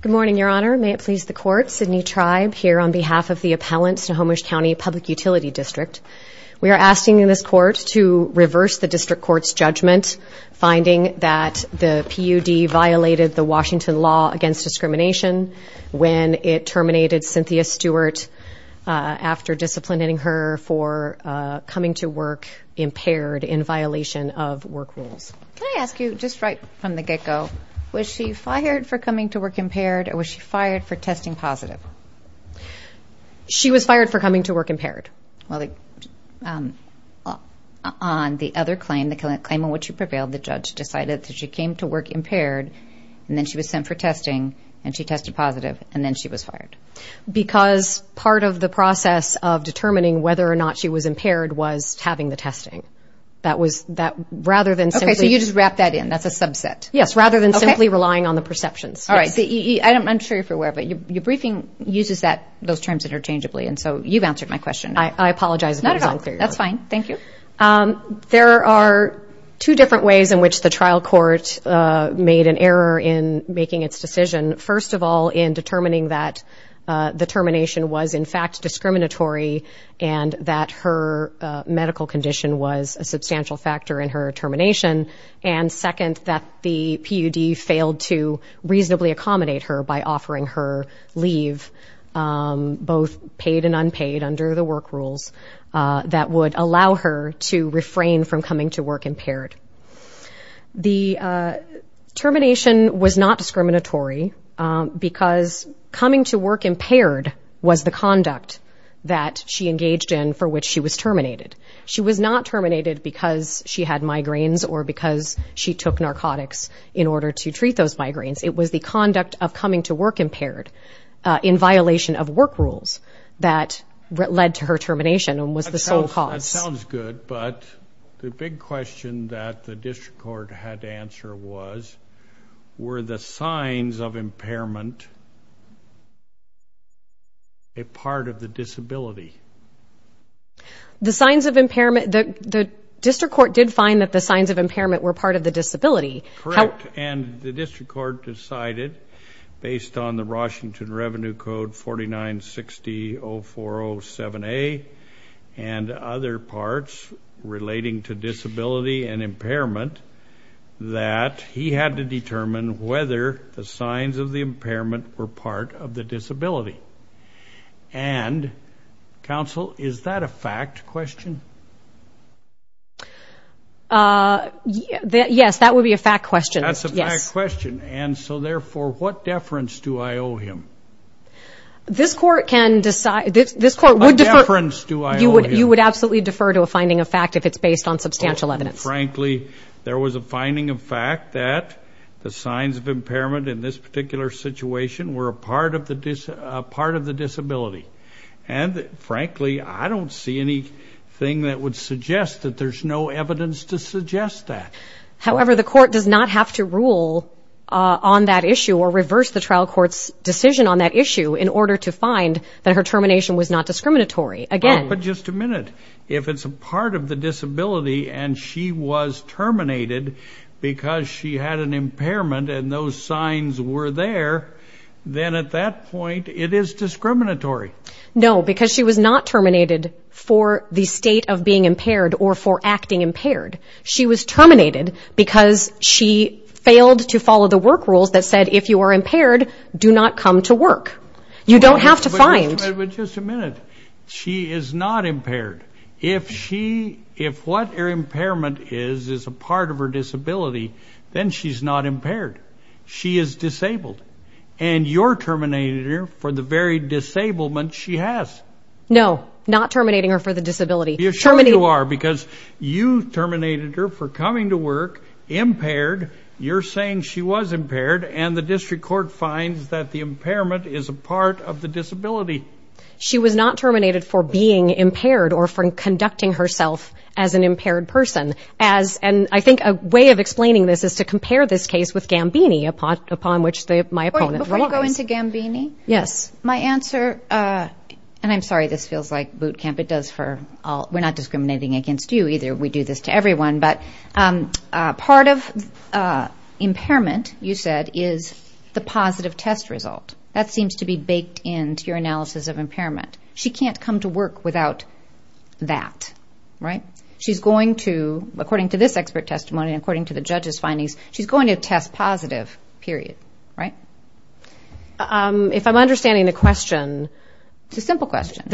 Good morning, Your Honor. May it please the Court. Sydney Tribe here on behalf of the appellants to Snohomish County Public Utility District. We are asking this Court to reverse the District Court's judgment finding that the PUD violated the Washington law against discrimination when it terminated Cynthia Stewart after disciplining her for coming to work impaired in violation of work rules. Can I ask you, just right from the get-go, was she fired for coming to work impaired or was she fired for testing positive? She was fired for coming to work impaired. Well, on the other claim, the claim on which you prevailed, the judge decided that she came to work impaired and then she was sent for testing and she tested positive and then she was fired. Because part of the process of determining whether or not she was impaired was having the testing. Okay, so you just wrapped that in. That's a subset. Yes, rather than simply relying on the perceptions. All right. I'm sure you're aware, but your briefing uses those terms interchangeably, and so you've answered my question. I apologize if I was unclear. Not at all. That's fine. Thank you. There are two different ways in which the trial court made an error in making its decision. First of all, in determining that the termination was, in fact, discriminatory and that her medical condition was a substantial factor in her termination. And second, that the PUD failed to reasonably accommodate her by offering her leave, both paid and unpaid under the work rules, that would allow her to refrain from coming to work impaired. The termination was not discriminatory because coming to work impaired was the conduct that she engaged in for which she was terminated. She was not terminated because she had migraines or because she took narcotics in order to treat those migraines. It was the conduct of coming to work impaired in violation of work rules that led to her termination and was the sole cause. That sounds good, but the big question that the district court had to answer was, were the signs of impairment a part of the disability? The signs of impairment, the district court did find that the signs of impairment were part of the disability. Correct, and the district court decided, based on the Washington Revenue Code 4960-0407A and other parts relating to disability and impairment, that he had to determine whether the signs of the impairment were part of the disability. And, counsel, is that a fact question? Yes, that would be a fact question. That's a fact question, and so therefore, what deference do I owe him? This court can decide. What deference do I owe him? You would absolutely defer to a finding of fact if it's based on substantial evidence. Frankly, there was a finding of fact that the signs of impairment in this particular situation were a part of the disability. And, frankly, I don't see anything that would suggest that there's no evidence to suggest that. However, the court does not have to rule on that issue or reverse the trial court's decision on that issue in order to find that her termination was not discriminatory. But just a minute, if it's a part of the disability and she was terminated because she had an impairment and those signs were there, then at that point it is discriminatory. No, because she was not terminated for the state of being impaired or for acting impaired. She was terminated because she failed to follow the work rules that said, if you are impaired, do not come to work. You don't have to find. But just a minute. She is not impaired. If what her impairment is is a part of her disability, then she's not impaired. She is disabled. And you're terminating her for the very disablement she has. No, not terminating her for the disability. You're sure you are because you terminated her for coming to work impaired. You're saying she was impaired. And the district court finds that the impairment is a part of the disability. She was not terminated for being impaired or for conducting herself as an impaired person. And I think a way of explaining this is to compare this case with Gambini, upon which my opponent relies. Before you go into Gambini, my answer, and I'm sorry, this feels like boot camp. We're not discriminating against you either. We do this to everyone. But part of impairment, you said, is the positive test result. That seems to be baked into your analysis of impairment. She can't come to work without that, right? She's going to, according to this expert testimony and according to the judge's findings, she's going to test positive, period, right? If I'm understanding the question. It's a simple question.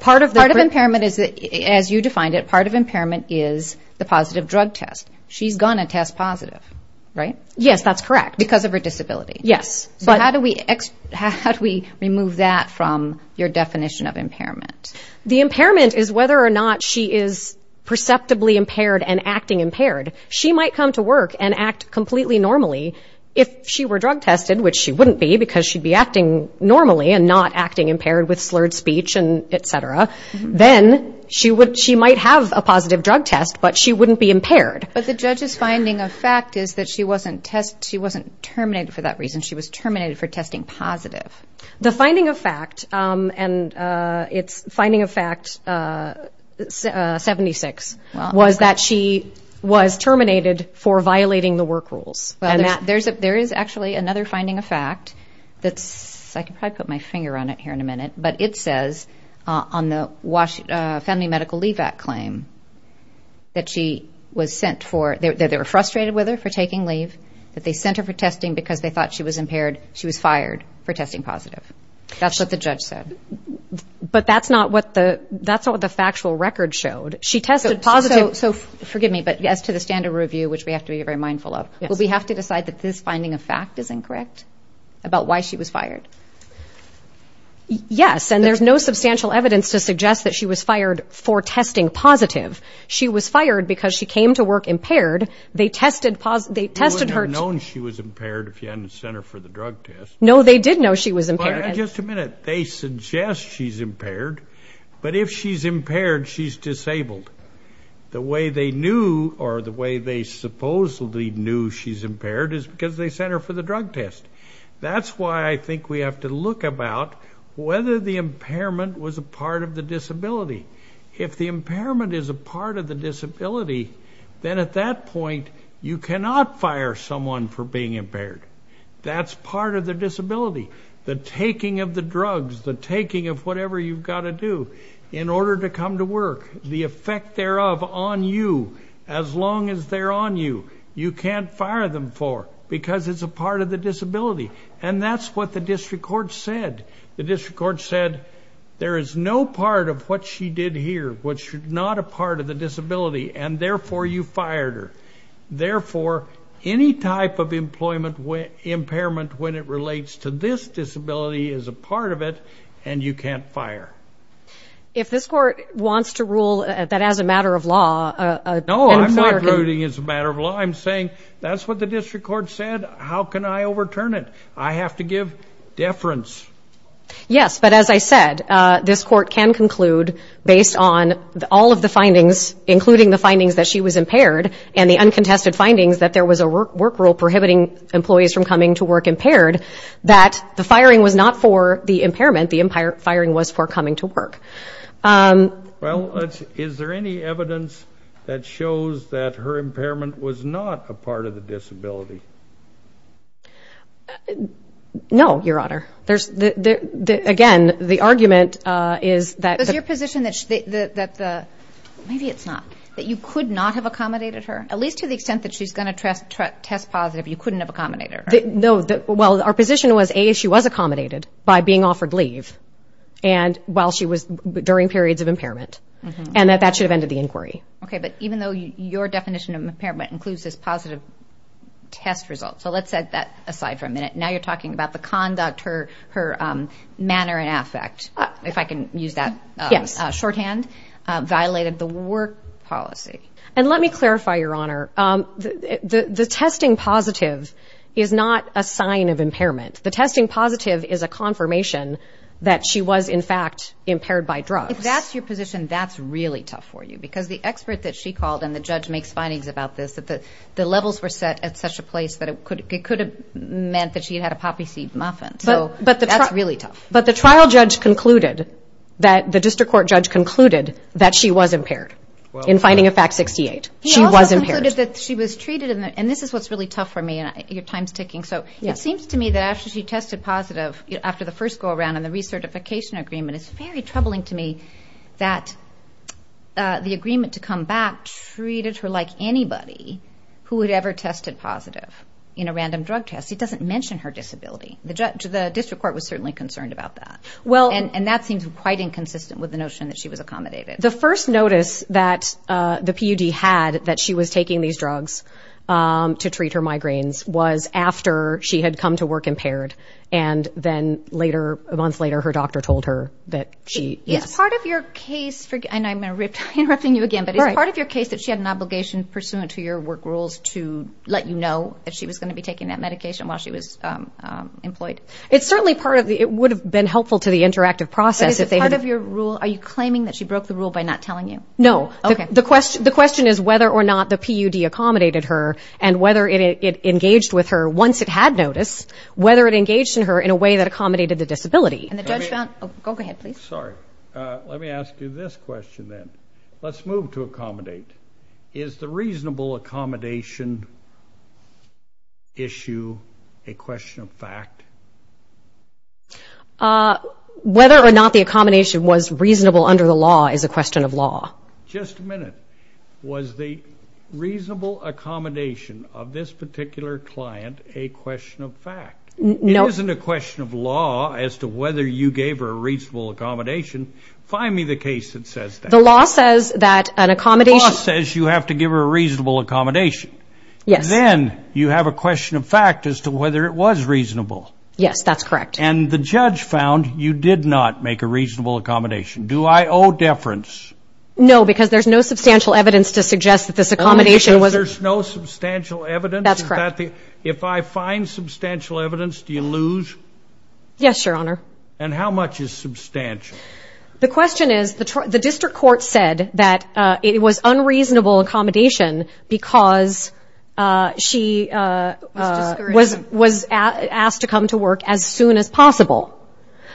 Part of impairment, as you defined it, part of impairment is the positive drug test. She's going to test positive, right? Yes, that's correct. Because of her disability. Yes. How do we remove that from your definition of impairment? The impairment is whether or not she is perceptibly impaired and acting impaired. She might come to work and act completely normally if she were drug tested, which she wouldn't be because she'd be acting normally and not acting impaired with slurred speech and et cetera. Then she might have a positive drug test, but she wouldn't be impaired. But the judge's finding of fact is that she wasn't terminated for that reason. She was terminated for testing positive. The finding of fact, and it's finding of fact 76, was that she was terminated for violating the work rules. There is actually another finding of fact that's, I could probably put my finger on it here in a minute, but it says on the Family Medical Leave Act claim that she was sent for, that they were frustrated with her for taking leave, that they sent her for testing because they thought she was impaired. She was fired for testing positive. That's what the judge said. But that's not what the factual record showed. She tested positive. So forgive me, but as to the standard review, which we have to be very mindful of, we have to decide that this finding of fact is incorrect about why she was fired. Yes, and there's no substantial evidence to suggest that she was fired for testing positive. She was fired because she came to work impaired. They tested her. They wouldn't have known she was impaired if you hadn't sent her for the drug test. No, they did know she was impaired. Just a minute. They suggest she's impaired, but if she's impaired, she's disabled. The way they knew or the way they supposedly knew she's impaired is because they sent her for the drug test. That's why I think we have to look about whether the impairment was a part of the disability. If the impairment is a part of the disability, then at that point you cannot fire someone for being impaired. That's part of the disability. The taking of the drugs, the taking of whatever you've got to do in order to come to work, the effect thereof on you, as long as they're on you, you can't fire them for because it's a part of the disability. And that's what the district court said. The district court said there is no part of what she did here which is not a part of the disability, and therefore you fired her. Therefore, any type of impairment when it relates to this disability is a part of it, and you can't fire. If this court wants to rule that as a matter of law, an employer can. No, I'm not ruling it as a matter of law. I'm saying that's what the district court said. How can I overturn it? I have to give deference. Yes, but as I said, this court can conclude based on all of the findings, including the findings that she was impaired and the uncontested findings that there was a work rule prohibiting employees from coming to work impaired, that the firing was not for the impairment. The firing was for coming to work. Well, is there any evidence that shows that her impairment was not a part of the disability? No, Your Honor. Again, the argument is that the ‑‑ Is your position that the ‑‑ maybe it's not, that you could not have accommodated her? At least to the extent that she's going to test positive, you couldn't have accommodated her? No. Well, our position was A, she was accommodated by being offered leave while she was during periods of impairment, and that that should have ended the inquiry. Okay, but even though your definition of impairment includes this positive test result, so let's set that aside for a minute. Now you're talking about the conduct, her manner and affect, if I can use that shorthand, violated the work policy. And let me clarify, Your Honor. The testing positive is not a sign of impairment. The testing positive is a confirmation that she was, in fact, impaired by drugs. If that's your position, that's really tough for you, because the expert that she called and the judge makes findings about this, that the levels were set at such a place that it could have meant that she had a poppy seed muffin. So that's really tough. But the trial judge concluded, the district court judge concluded, that she was impaired in finding of fact 68. She was impaired. He also concluded that she was treated, and this is what's really tough for me, and your time's ticking. So it seems to me that after she tested positive after the first go-around and the recertification agreement, it's very troubling to me that the agreement to come back treated her like anybody who had ever tested positive in a random drug test. It doesn't mention her disability. The district court was certainly concerned about that. And that seems quite inconsistent with the notion that she was accommodated. The first notice that the PUD had that she was taking these drugs to treat her migraines was after she had come to work impaired. And then later, a month later, her doctor told her that she, yes. Is part of your case, and I'm interrupting you again, but is part of your case that she had an obligation pursuant to your work rules to let you know that she was going to be taking that medication while she was employed? It's certainly part of the, it would have been helpful to the interactive process. But is it part of your rule? Are you claiming that she broke the rule by not telling you? No. Okay. The question is whether or not the PUD accommodated her and whether it engaged with her once it had notice, whether it engaged in her in a way that accommodated the disability. And the judge found, go ahead, please. Sorry. Let me ask you this question then. Let's move to accommodate. Is the reasonable accommodation issue a question of fact? Whether or not the accommodation was reasonable under the law is a question of law. Just a minute. Was the reasonable accommodation of this particular client a question of fact? No. It isn't a question of law as to whether you gave her a reasonable accommodation. Find me the case that says that. The law says that an accommodation. The law says you have to give her a reasonable accommodation. Yes. And then you have a question of fact as to whether it was reasonable. Yes, that's correct. And the judge found you did not make a reasonable accommodation. Do I owe deference? No, because there's no substantial evidence to suggest that this accommodation was. There's no substantial evidence? That's correct. If I find substantial evidence, do you lose? Yes, Your Honor. And how much is substantial? The question is the district court said that it was unreasonable accommodation because she was asked to come to work as soon as possible.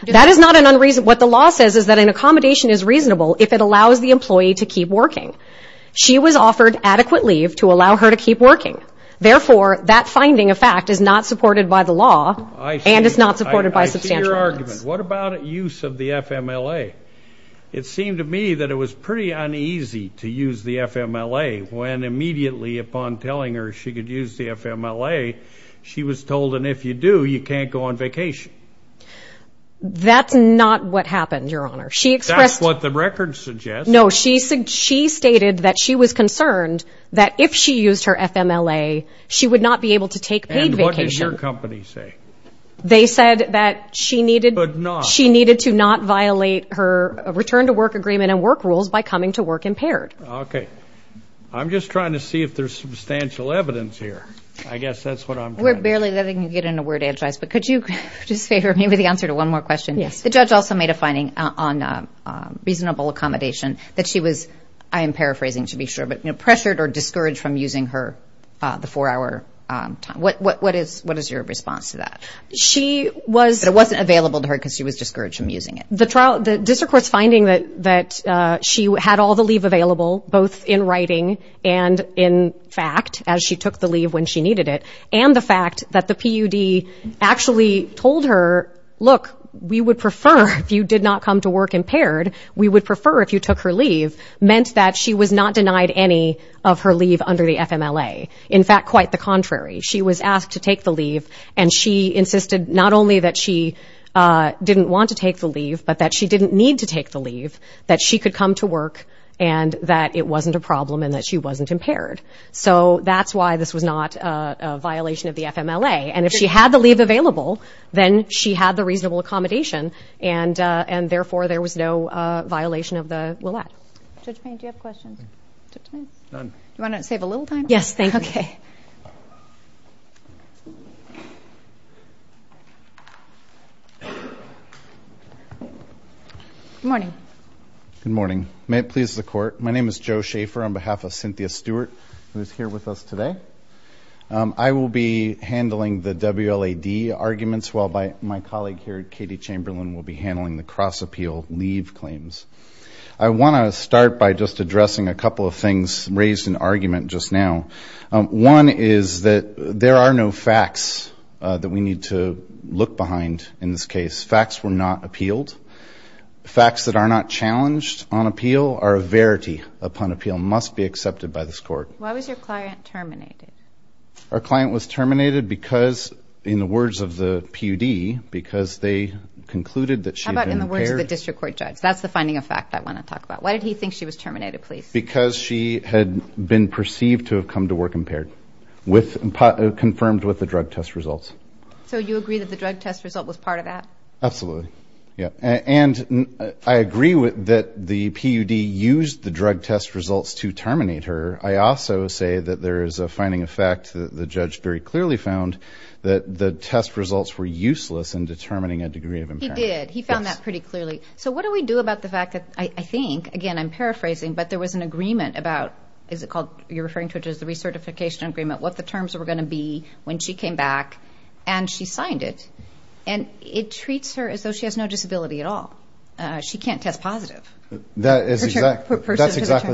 That is not an unreasonable. What the law says is that an accommodation is reasonable if it allows the employee to keep working. She was offered adequate leave to allow her to keep working. Therefore, that finding of fact is not supported by the law. And it's not supported by substantial evidence. I see your argument. What about use of the FMLA? It seemed to me that it was pretty uneasy to use the FMLA when immediately upon telling her she could use the FMLA, she was told, and if you do, you can't go on vacation. That's not what happened, Your Honor. That's what the record suggests. No, she stated that she was concerned that if she used her FMLA, she would not be able to take paid vacation. And what did your company say? They said that she needed to not violate her return-to-work agreement and work rules by coming to work impaired. Okay. I'm just trying to see if there's substantial evidence here. I guess that's what I'm trying to see. We're barely letting you get into word exercise, but could you just say maybe the answer to one more question? Yes. The judge also made a finding on reasonable accommodation that she was, I am paraphrasing to be sure, but pressured or discouraged from using the four-hour time. What is your response to that? She was. But it wasn't available to her because she was discouraged from using it. The district court's finding that she had all the leave available both in writing and in fact as she took the leave when she needed it, and the fact that the PUD actually told her, look, we would prefer if you did not come to work impaired, we would prefer if you took her leave, meant that she was not denied any of her leave under the FMLA. In fact, quite the contrary. She was asked to take the leave, and she insisted not only that she didn't want to take the leave, but that she didn't need to take the leave, that she could come to work, and that it wasn't a problem and that she wasn't impaired. So that's why this was not a violation of the FMLA. And if she had the leave available, then she had the reasonable accommodation, and therefore there was no violation of the LILLAD. Judge Payne, do you have questions? Do you want to save a little time? Yes, thank you. Okay. Good morning. Good morning. May it please the Court, my name is Joe Schaefer on behalf of Cynthia Stewart, who is here with us today. I will be handling the WLAD arguments while my colleague here, Katie Chamberlain, will be handling the cross-appeal leave claims. I want to start by just addressing a couple of things raised in argument just now. One is that there are no facts that we need to look behind in this case. Facts were not appealed. Facts that are not challenged on appeal are a verity upon appeal, must be accepted by this Court. Why was your client terminated? Our client was terminated because, in the words of the PUD, because they concluded that she had been impaired. That's the finding of fact I want to talk about. Why did he think she was terminated, please? Because she had been perceived to have come to work impaired, confirmed with the drug test results. So you agree that the drug test result was part of that? Absolutely, yeah. And I agree that the PUD used the drug test results to terminate her. I also say that there is a finding of fact that the judge very clearly found that the test results were useless in determining a degree of impairment. He did. He found that pretty clearly. So what do we do about the fact that I think, again, I'm paraphrasing, but there was an agreement about, is it called, you're referring to it as the recertification agreement, what the terms were going to be when she came back, and she signed it. And it treats her as though she has no disability at all. She can't test positive. That's exactly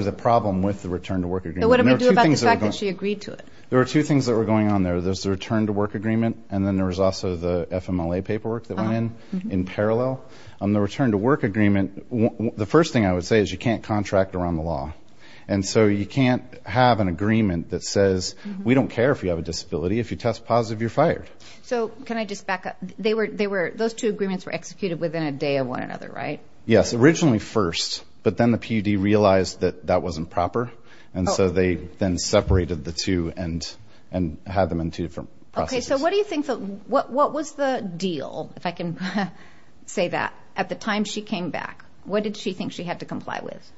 the problem with the return to work agreement. So what do we do about the fact that she agreed to it? There were two things that were going on there. There's the return to work agreement, and then there was also the FMLA paperwork that went in in parallel. On the return to work agreement, the first thing I would say is you can't contract around the law. And so you can't have an agreement that says we don't care if you have a disability. If you test positive, you're fired. So can I just back up? Those two agreements were executed within a day of one another, right? Yes, originally first, but then the PUD realized that that wasn't proper, and so they then separated the two and had them in two different processes. Okay, so what was the deal, if I can say that, at the time she came back? What did she think she had to comply with?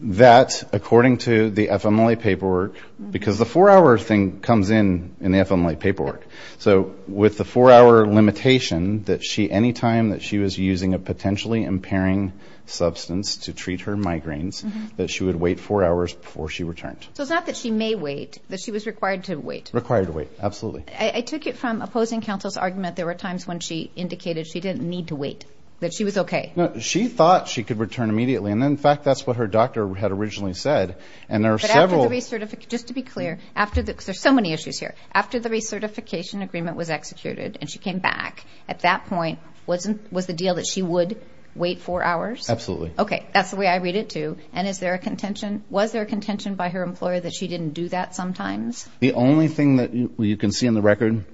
That, according to the FMLA paperwork, because the four-hour thing comes in in the FMLA paperwork. So with the four-hour limitation, that any time that she was using a potentially impairing substance to treat her migraines, that she would wait four hours before she returned. So it's not that she may wait, that she was required to wait. Required to wait, absolutely. I took it from opposing counsel's argument. There were times when she indicated she didn't need to wait, that she was okay. No, she thought she could return immediately, and in fact, that's what her doctor had originally said. But after the recertification, just to be clear, because there's so many issues here, after the recertification agreement was executed and she came back, at that point, was the deal that she would wait four hours? Absolutely. Okay. That's the way I read it, too. And is there a contention? Was there a contention by her employer that she didn't do that sometimes? The only thing that you can see in the record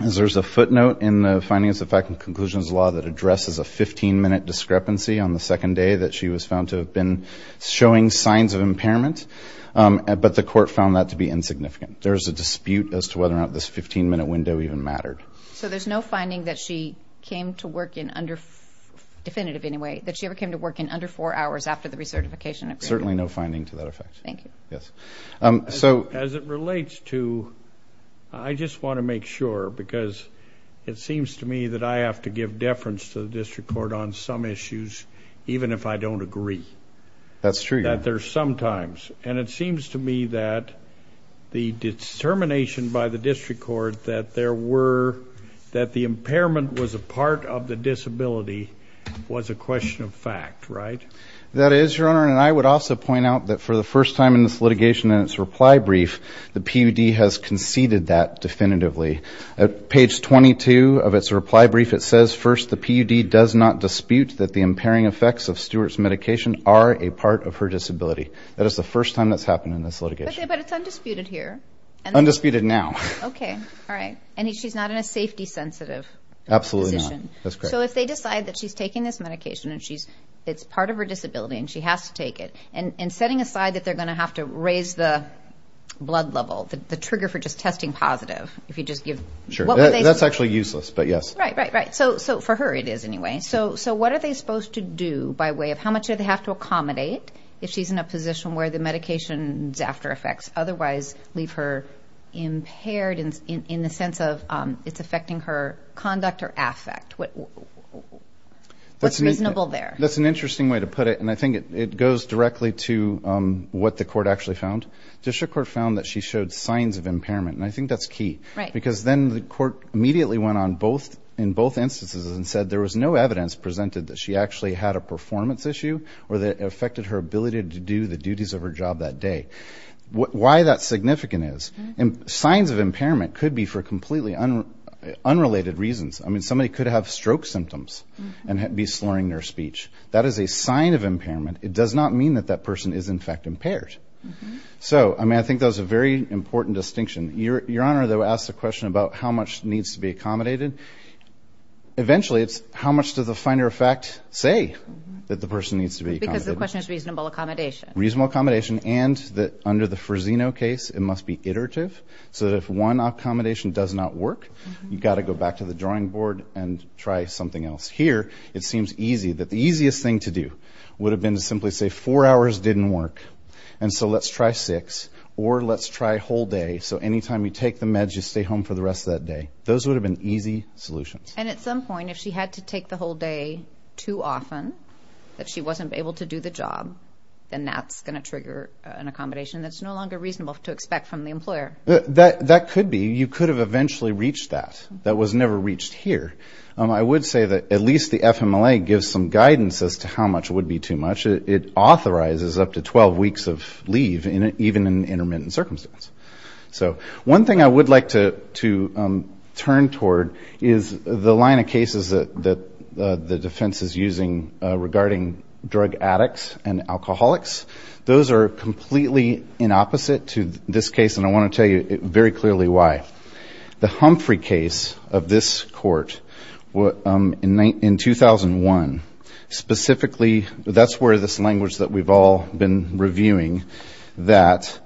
is there's a footnote in the findings of fact and conclusions law that addresses a 15-minute discrepancy on the second day that she was found to have been showing signs of impairment, but the court found that to be insignificant. There is a dispute as to whether or not this 15-minute window even mattered. So there's no finding that she came to work in under, definitive anyway, that she ever came to work in under four hours after the recertification agreement? Certainly no finding to that effect. Thank you. Yes. As it relates to, I just want to make sure because it seems to me that I have to give deference to the district court on some issues, even if I don't agree. That's true. And it seems to me that the determination by the district court that there were, that the impairment was a part of the disability was a question of fact, right? That is, Your Honor. And I would also point out that for the first time in this litigation and its reply brief, the PUD has conceded that definitively. At page 22 of its reply brief, it says, First, the PUD does not dispute that the impairing effects of Stewart's medication are a part of her disability. That is the first time that's happened in this litigation. But it's undisputed here. Undisputed now. Okay. All right. And she's not in a safety-sensitive position. Absolutely not. That's correct. So if they decide that she's taking this medication and it's part of her disability and she has to take it, and setting aside that they're going to have to raise the blood level, the trigger for just testing positive, if you just give, what would they say? That's actually useless, but yes. Right, right, right. So for her it is anyway. So what are they supposed to do by way of how much do they have to accommodate if she's in a position where the medication's after effects otherwise leave her impaired in the sense of it's affecting her conduct or affect? What's reasonable there? That's an interesting way to put it, and I think it goes directly to what the court actually found. The district court found that she showed signs of impairment, and I think that's key. Right. Because then the court immediately went on in both instances and said there was no evidence presented that she actually had a performance issue or that it affected her ability to do the duties of her job that day. Why that's significant is signs of impairment could be for completely unrelated reasons. I mean, somebody could have stroke symptoms and be slurring their speech. That is a sign of impairment. It does not mean that that person is, in fact, impaired. So, I mean, I think that was a very important distinction. Your Honor, though, asked the question about how much needs to be accommodated. Eventually, it's how much does the finer of fact say that the person needs to be accommodated. Because the question is reasonable accommodation. Reasonable accommodation, and that under the Frisino case, it must be iterative so that if one accommodation does not work, you've got to go back to the drawing board and try something else. Here, it seems easy that the easiest thing to do would have been to simply say four hours didn't work, and so let's try six, or let's try a whole day, so anytime you take the meds, you stay home for the rest of that day. Those would have been easy solutions. And at some point, if she had to take the whole day too often, if she wasn't able to do the job, then that's going to trigger an accommodation that's no longer reasonable to expect from the employer. That could be. You could have eventually reached that. That was never reached here. I would say that at least the FMLA gives some guidance as to how much would be too much. It authorizes up to 12 weeks of leave, even in intermittent circumstance. So one thing I would like to turn toward is the line of cases that the defense is using regarding drug addicts and alcoholics. Those are completely in opposite to this case, and I want to tell you very clearly why. The Humphrey case of this court in 2001, specifically, that's where this language that we've all been reviewing, that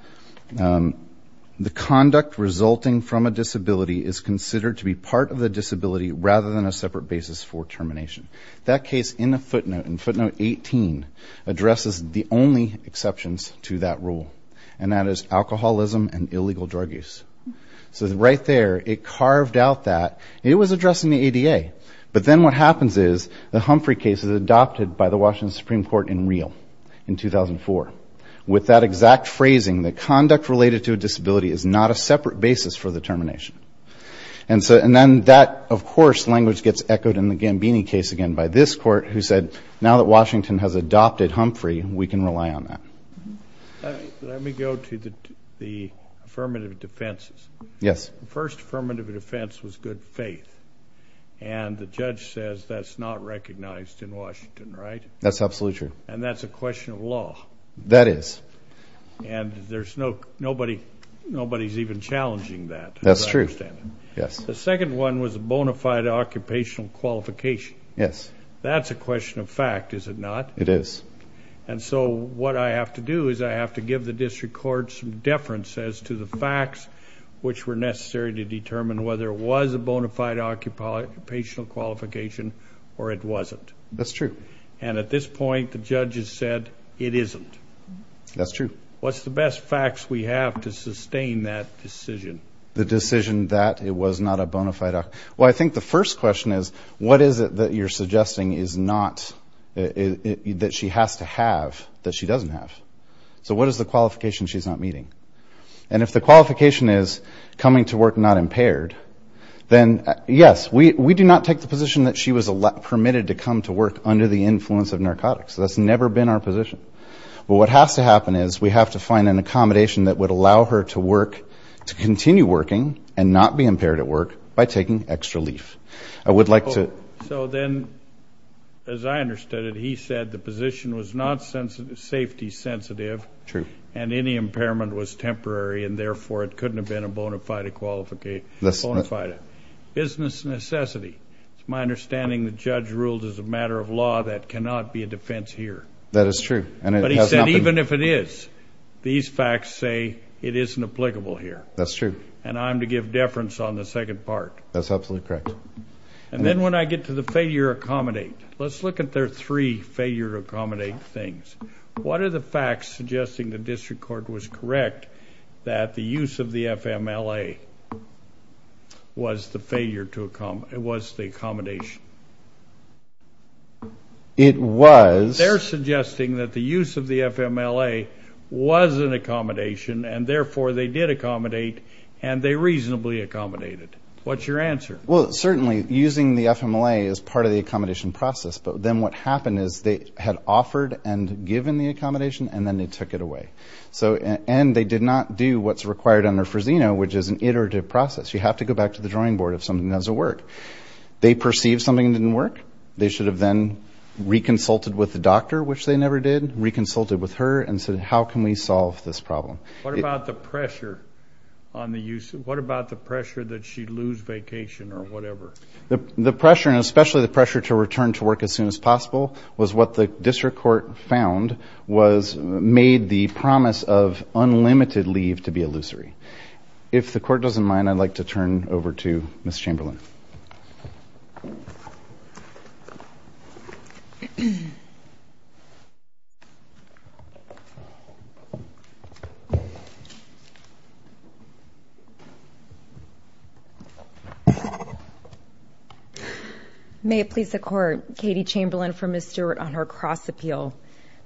the conduct resulting from a disability is considered to be part of the disability rather than a separate basis for termination. That case in the footnote, in footnote 18, addresses the only exceptions to that rule, and that is alcoholism and illegal drug use. So right there, it carved out that. It was addressing the ADA. But then what happens is the Humphrey case is adopted by the Washington Supreme Court in real in 2004 with that exact phrasing that conduct related to a disability is not a separate basis for the termination. And then that, of course, language gets echoed in the Gambini case again by this court who said, now that Washington has adopted Humphrey, we can rely on that. Let me go to the affirmative defenses. Yes. The first affirmative defense was good faith, and the judge says that's not recognized in Washington, right? That's absolutely true. And that's a question of law. That is. And nobody's even challenging that. That's true. The second one was a bona fide occupational qualification. Yes. That's a question of fact, is it not? It is. And so what I have to do is I have to give the district court some deference as to the facts which were necessary to determine whether it was a bona fide occupational qualification or it wasn't. That's true. And at this point, the judge has said it isn't. That's true. What's the best facts we have to sustain that decision? The decision that it was not a bona fide. Well, I think the first question is what is it that you're suggesting is not that she has to have that she doesn't have? So what is the qualification she's not meeting? And if the qualification is coming to work not impaired, then, yes, we do not take the position that she was permitted to come to work under the influence of narcotics. That's never been our position. But what has to happen is we have to find an accommodation that would allow her to work, to continue working and not be impaired at work by taking extra leave. I would like to. So then, as I understood it, he said the position was not safety sensitive. True. And any impairment was temporary and, therefore, it couldn't have been a bona fide business necessity. It's my understanding the judge ruled as a matter of law that cannot be a defense here. That is true. But he said even if it is, these facts say it isn't applicable here. That's true. And I'm to give deference on the second part. That's absolutely correct. And then when I get to the failure to accommodate, let's look at their three failure to accommodate things. What are the facts suggesting the district court was correct that the use of the FMLA was the accommodation? It was. They're suggesting that the use of the FMLA was an accommodation, and, therefore, they did accommodate, and they reasonably accommodated. What's your answer? Well, certainly, using the FMLA is part of the accommodation process. But then what happened is they had offered and given the accommodation, and then they took it away. And they did not do what's required under Frisino, which is an iterative process. You have to go back to the drawing board if something doesn't work. They perceived something didn't work. They should have then reconsulted with the doctor, which they never did, reconsulted with her and said, how can we solve this problem? What about the pressure that she'd lose vacation or whatever? The pressure, and especially the pressure to return to work as soon as possible, was what the district court found was made the promise of unlimited leave to be illusory. If the Court doesn't mind, I'd like to turn over to Ms. Chamberlain. May it please the Court, Katie Chamberlain for Ms. Stewart on her cross appeal.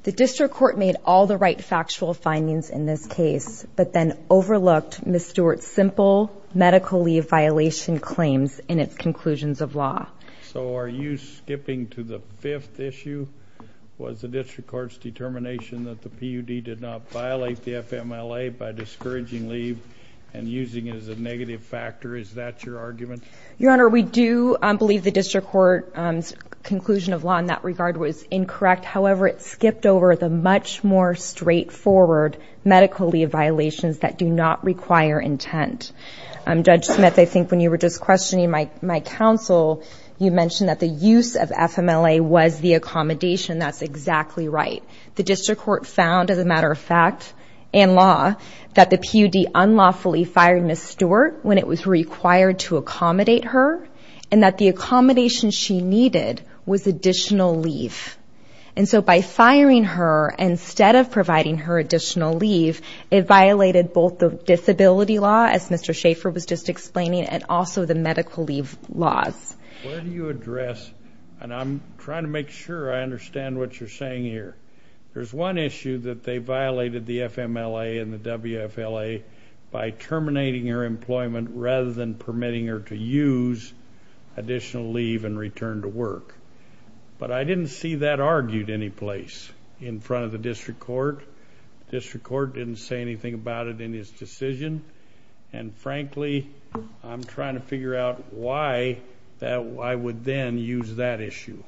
The district court made all the right factual findings in this case, but then overlooked Ms. Stewart's simple medical leave violation claims in its conclusions of law. So are you skipping to the fifth issue? Was the district court's determination that the PUD did not violate the FMLA by discouraging leave and using it as a negative factor, is that your argument? Your Honor, we do believe the district court's conclusion of law in that regard was incorrect. However, it skipped over the much more straightforward medical leave violations that do not require intent. Judge Smith, I think when you were just questioning my counsel, you mentioned that the use of FMLA was the accommodation. That's exactly right. The district court found, as a matter of fact, and law, that the PUD unlawfully fired Ms. Stewart when it was required to accommodate her and that the accommodation she needed was additional leave. And so by firing her instead of providing her additional leave, it violated both the disability law, as Mr. Schaffer was just explaining, and also the medical leave laws. Where do you address, and I'm trying to make sure I understand what you're saying here, there's one issue that they violated the FMLA and the WFLA by terminating her employment rather than permitting her to use additional leave and return to work. But I didn't see that argued any place in front of the district court. The district court didn't say anything about it in his decision. And frankly, I'm trying to figure out why I would then use that issue.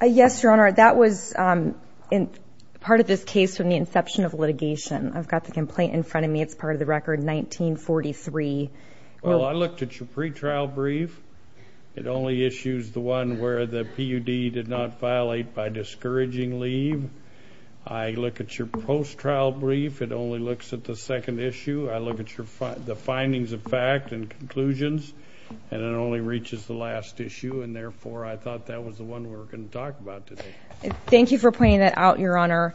Yes, Your Honor, that was part of this case from the inception of litigation. I've got the complaint in front of me. It's part of the record 1943. Well, I looked at your pretrial brief. It only issues the one where the PUD did not violate by discouraging leave. I look at your post-trial brief. It only looks at the second issue. I look at the findings of fact and conclusions, and it only reaches the last issue, and therefore I thought that was the one we were going to talk about today. Thank you for pointing that out, Your Honor.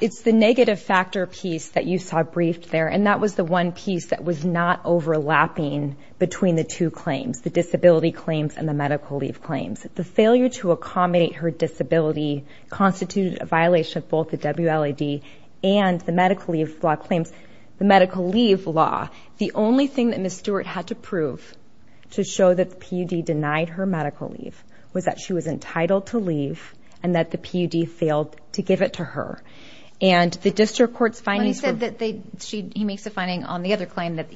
It's the negative factor piece that you saw briefed there, and that was the one piece that was not overlapping between the two claims, the disability claims and the medical leave claims. The failure to accommodate her disability constituted a violation of both the WLAD and the medical leave law claims. The medical leave law, the only thing that Ms. Stewart had to prove to show that the PUD denied her medical leave was that she was entitled to leave and that the PUD failed to give it to her. And the district court's findings were – Well, he said that they – he makes a finding on the other claim that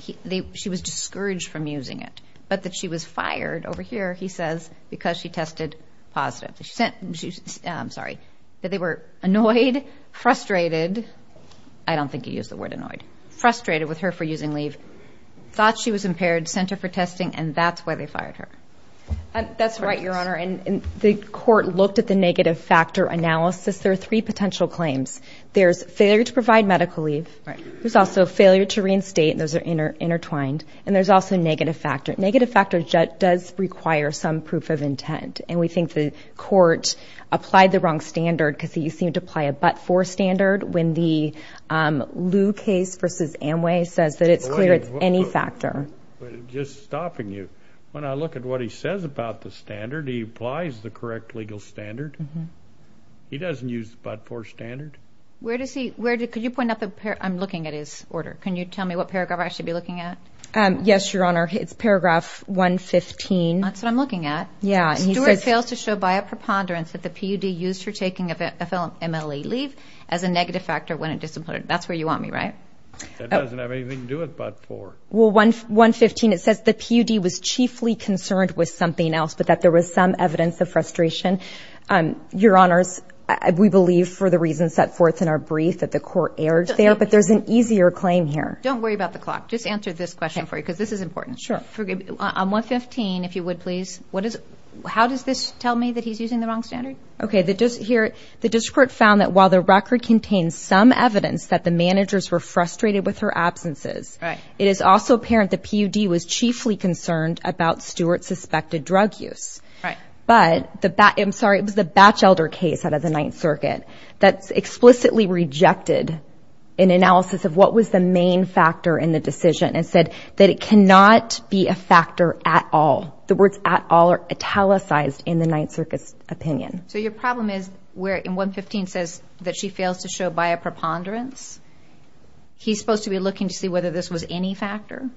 she was discouraged from using it, but that she was fired over here, he says, because she tested positive. She sent – I'm sorry, that they were annoyed, frustrated – I don't think he used the word annoyed – frustrated with her for using leave, thought she was impaired, sent her for testing, and that's why they fired her. That's right, Your Honor, and the court looked at the negative factor analysis. There are three potential claims. There's failure to provide medical leave. There's also failure to reinstate, and those are intertwined. And there's also negative factor. Negative factor does require some proof of intent, and we think the court applied the wrong standard because you seemed to apply a but-for standard when the Lew case versus Amway says that it's clear it's any factor. But just stopping you, when I look at what he says about the standard, he applies the correct legal standard. He doesn't use the but-for standard. Where does he – where – could you point up a – I'm looking at his order. Can you tell me what paragraph I should be looking at? Yes, Your Honor, it's paragraph 115. That's what I'm looking at. Yeah, and he says – Stewart fails to show by a preponderance that the PUD used for taking an MLE leave as a negative factor when it disappointed. That's where you want me, right? That doesn't have anything to do with but-for. Well, 115, it says the PUD was chiefly concerned with something else but that there was some evidence of frustration. Your Honors, we believe, for the reasons set forth in our brief, that the court erred there, but there's an easier claim here. Don't worry about the clock. Just answer this question for you because this is important. Sure. On 115, if you would, please, what is – how does this tell me that he's using the wrong standard? Okay, the district court found that while the record contains some evidence that the managers were frustrated with her absences, it is also apparent the PUD was chiefly concerned about Stewart's suspected drug use. Right. But the – I'm sorry, it was the Batchelder case out of the Ninth Circuit that explicitly rejected an analysis of what was the main factor in the decision and said that it cannot be a factor at all. The words at all are italicized in the Ninth Circuit's opinion. So your problem is where 115 says that she fails to show by a preponderance. He's supposed to be looking to see whether this was any factor?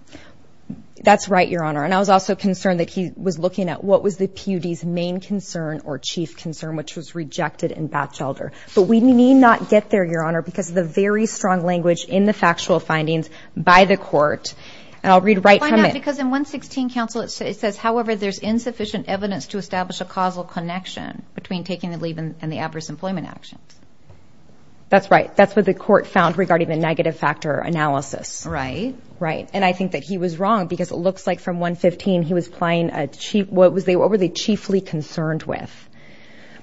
That's right, Your Honor. And I was also concerned that he was looking at what was the PUD's main concern or chief concern, which was rejected in Batchelder. But we need not get there, Your Honor, because of the very strong language in the factual findings by the court. And I'll read right from it. Why not? Because in 116, counsel, it says, however, there's insufficient evidence to establish a causal connection between taking the leave and the adverse employment actions. That's right. That's what the court found regarding the negative factor analysis. Right. Right. And I think that he was wrong because it looks like from 115, he was playing a chief, what were they chiefly concerned with?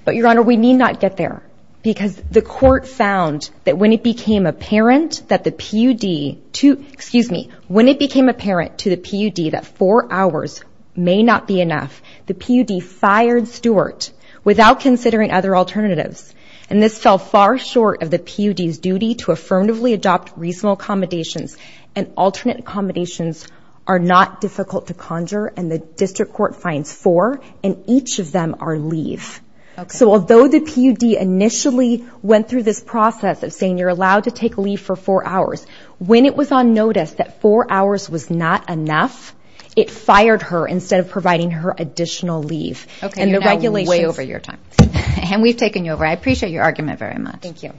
But, Your Honor, we need not get there because the court found that when it became apparent that the PUD, excuse me, when it became apparent to the PUD that four hours may not be enough, the PUD fired Stewart without considering other alternatives. And this fell far short of the PUD's duty to affirmatively adopt reasonable accommodations and alternate accommodations are not difficult to conjure, and the district court finds four, and each of them are leave. Okay. So although the PUD initially went through this process of saying, you're allowed to take leave for four hours, when it was on notice that four hours was not enough, it fired her instead of providing her additional leave. Okay. You're now way over your time. And we've taken you over. I appreciate your argument very much. Thank you.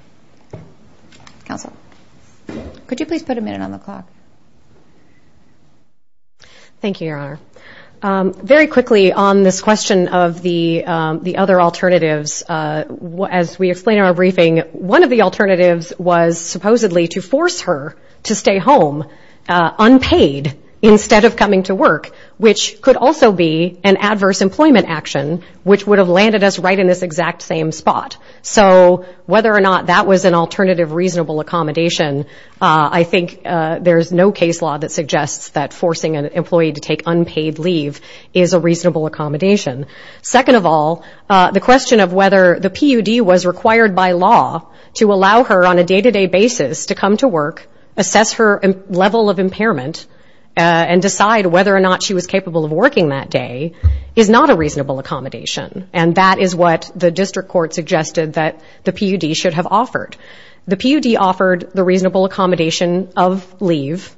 Counsel. Could you please put a minute on the clock? Thank you, Your Honor. Very quickly on this question of the other alternatives, as we explained in our briefing, one of the alternatives was supposedly to force her to stay home unpaid instead of coming to work, which could also be an adverse employment action, which would have landed us right in this exact same spot. So whether or not that was an alternative reasonable accommodation, I think there's no case law that suggests that forcing an employee to take unpaid leave is a reasonable accommodation. Second of all, the question of whether the PUD was required by law to allow her on a day-to-day basis to come to work, assess her level of impairment, and decide whether or not she was capable of working that day is not a reasonable accommodation. And that is what the district court suggested that the PUD should have offered. The PUD offered the reasonable accommodation of leave.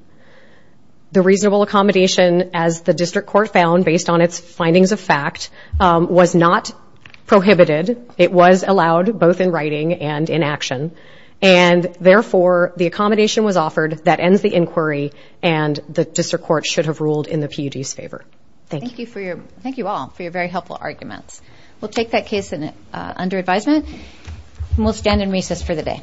The reasonable accommodation, as the district court found based on its findings of fact, was not prohibited. It was allowed both in writing and in action. And therefore, the accommodation was offered. That ends the inquiry, and the district court should have ruled in the PUD's favor. Thank you. Thank you all for your very helpful arguments. We'll take that case under advisement, and we'll stand in recess for the day.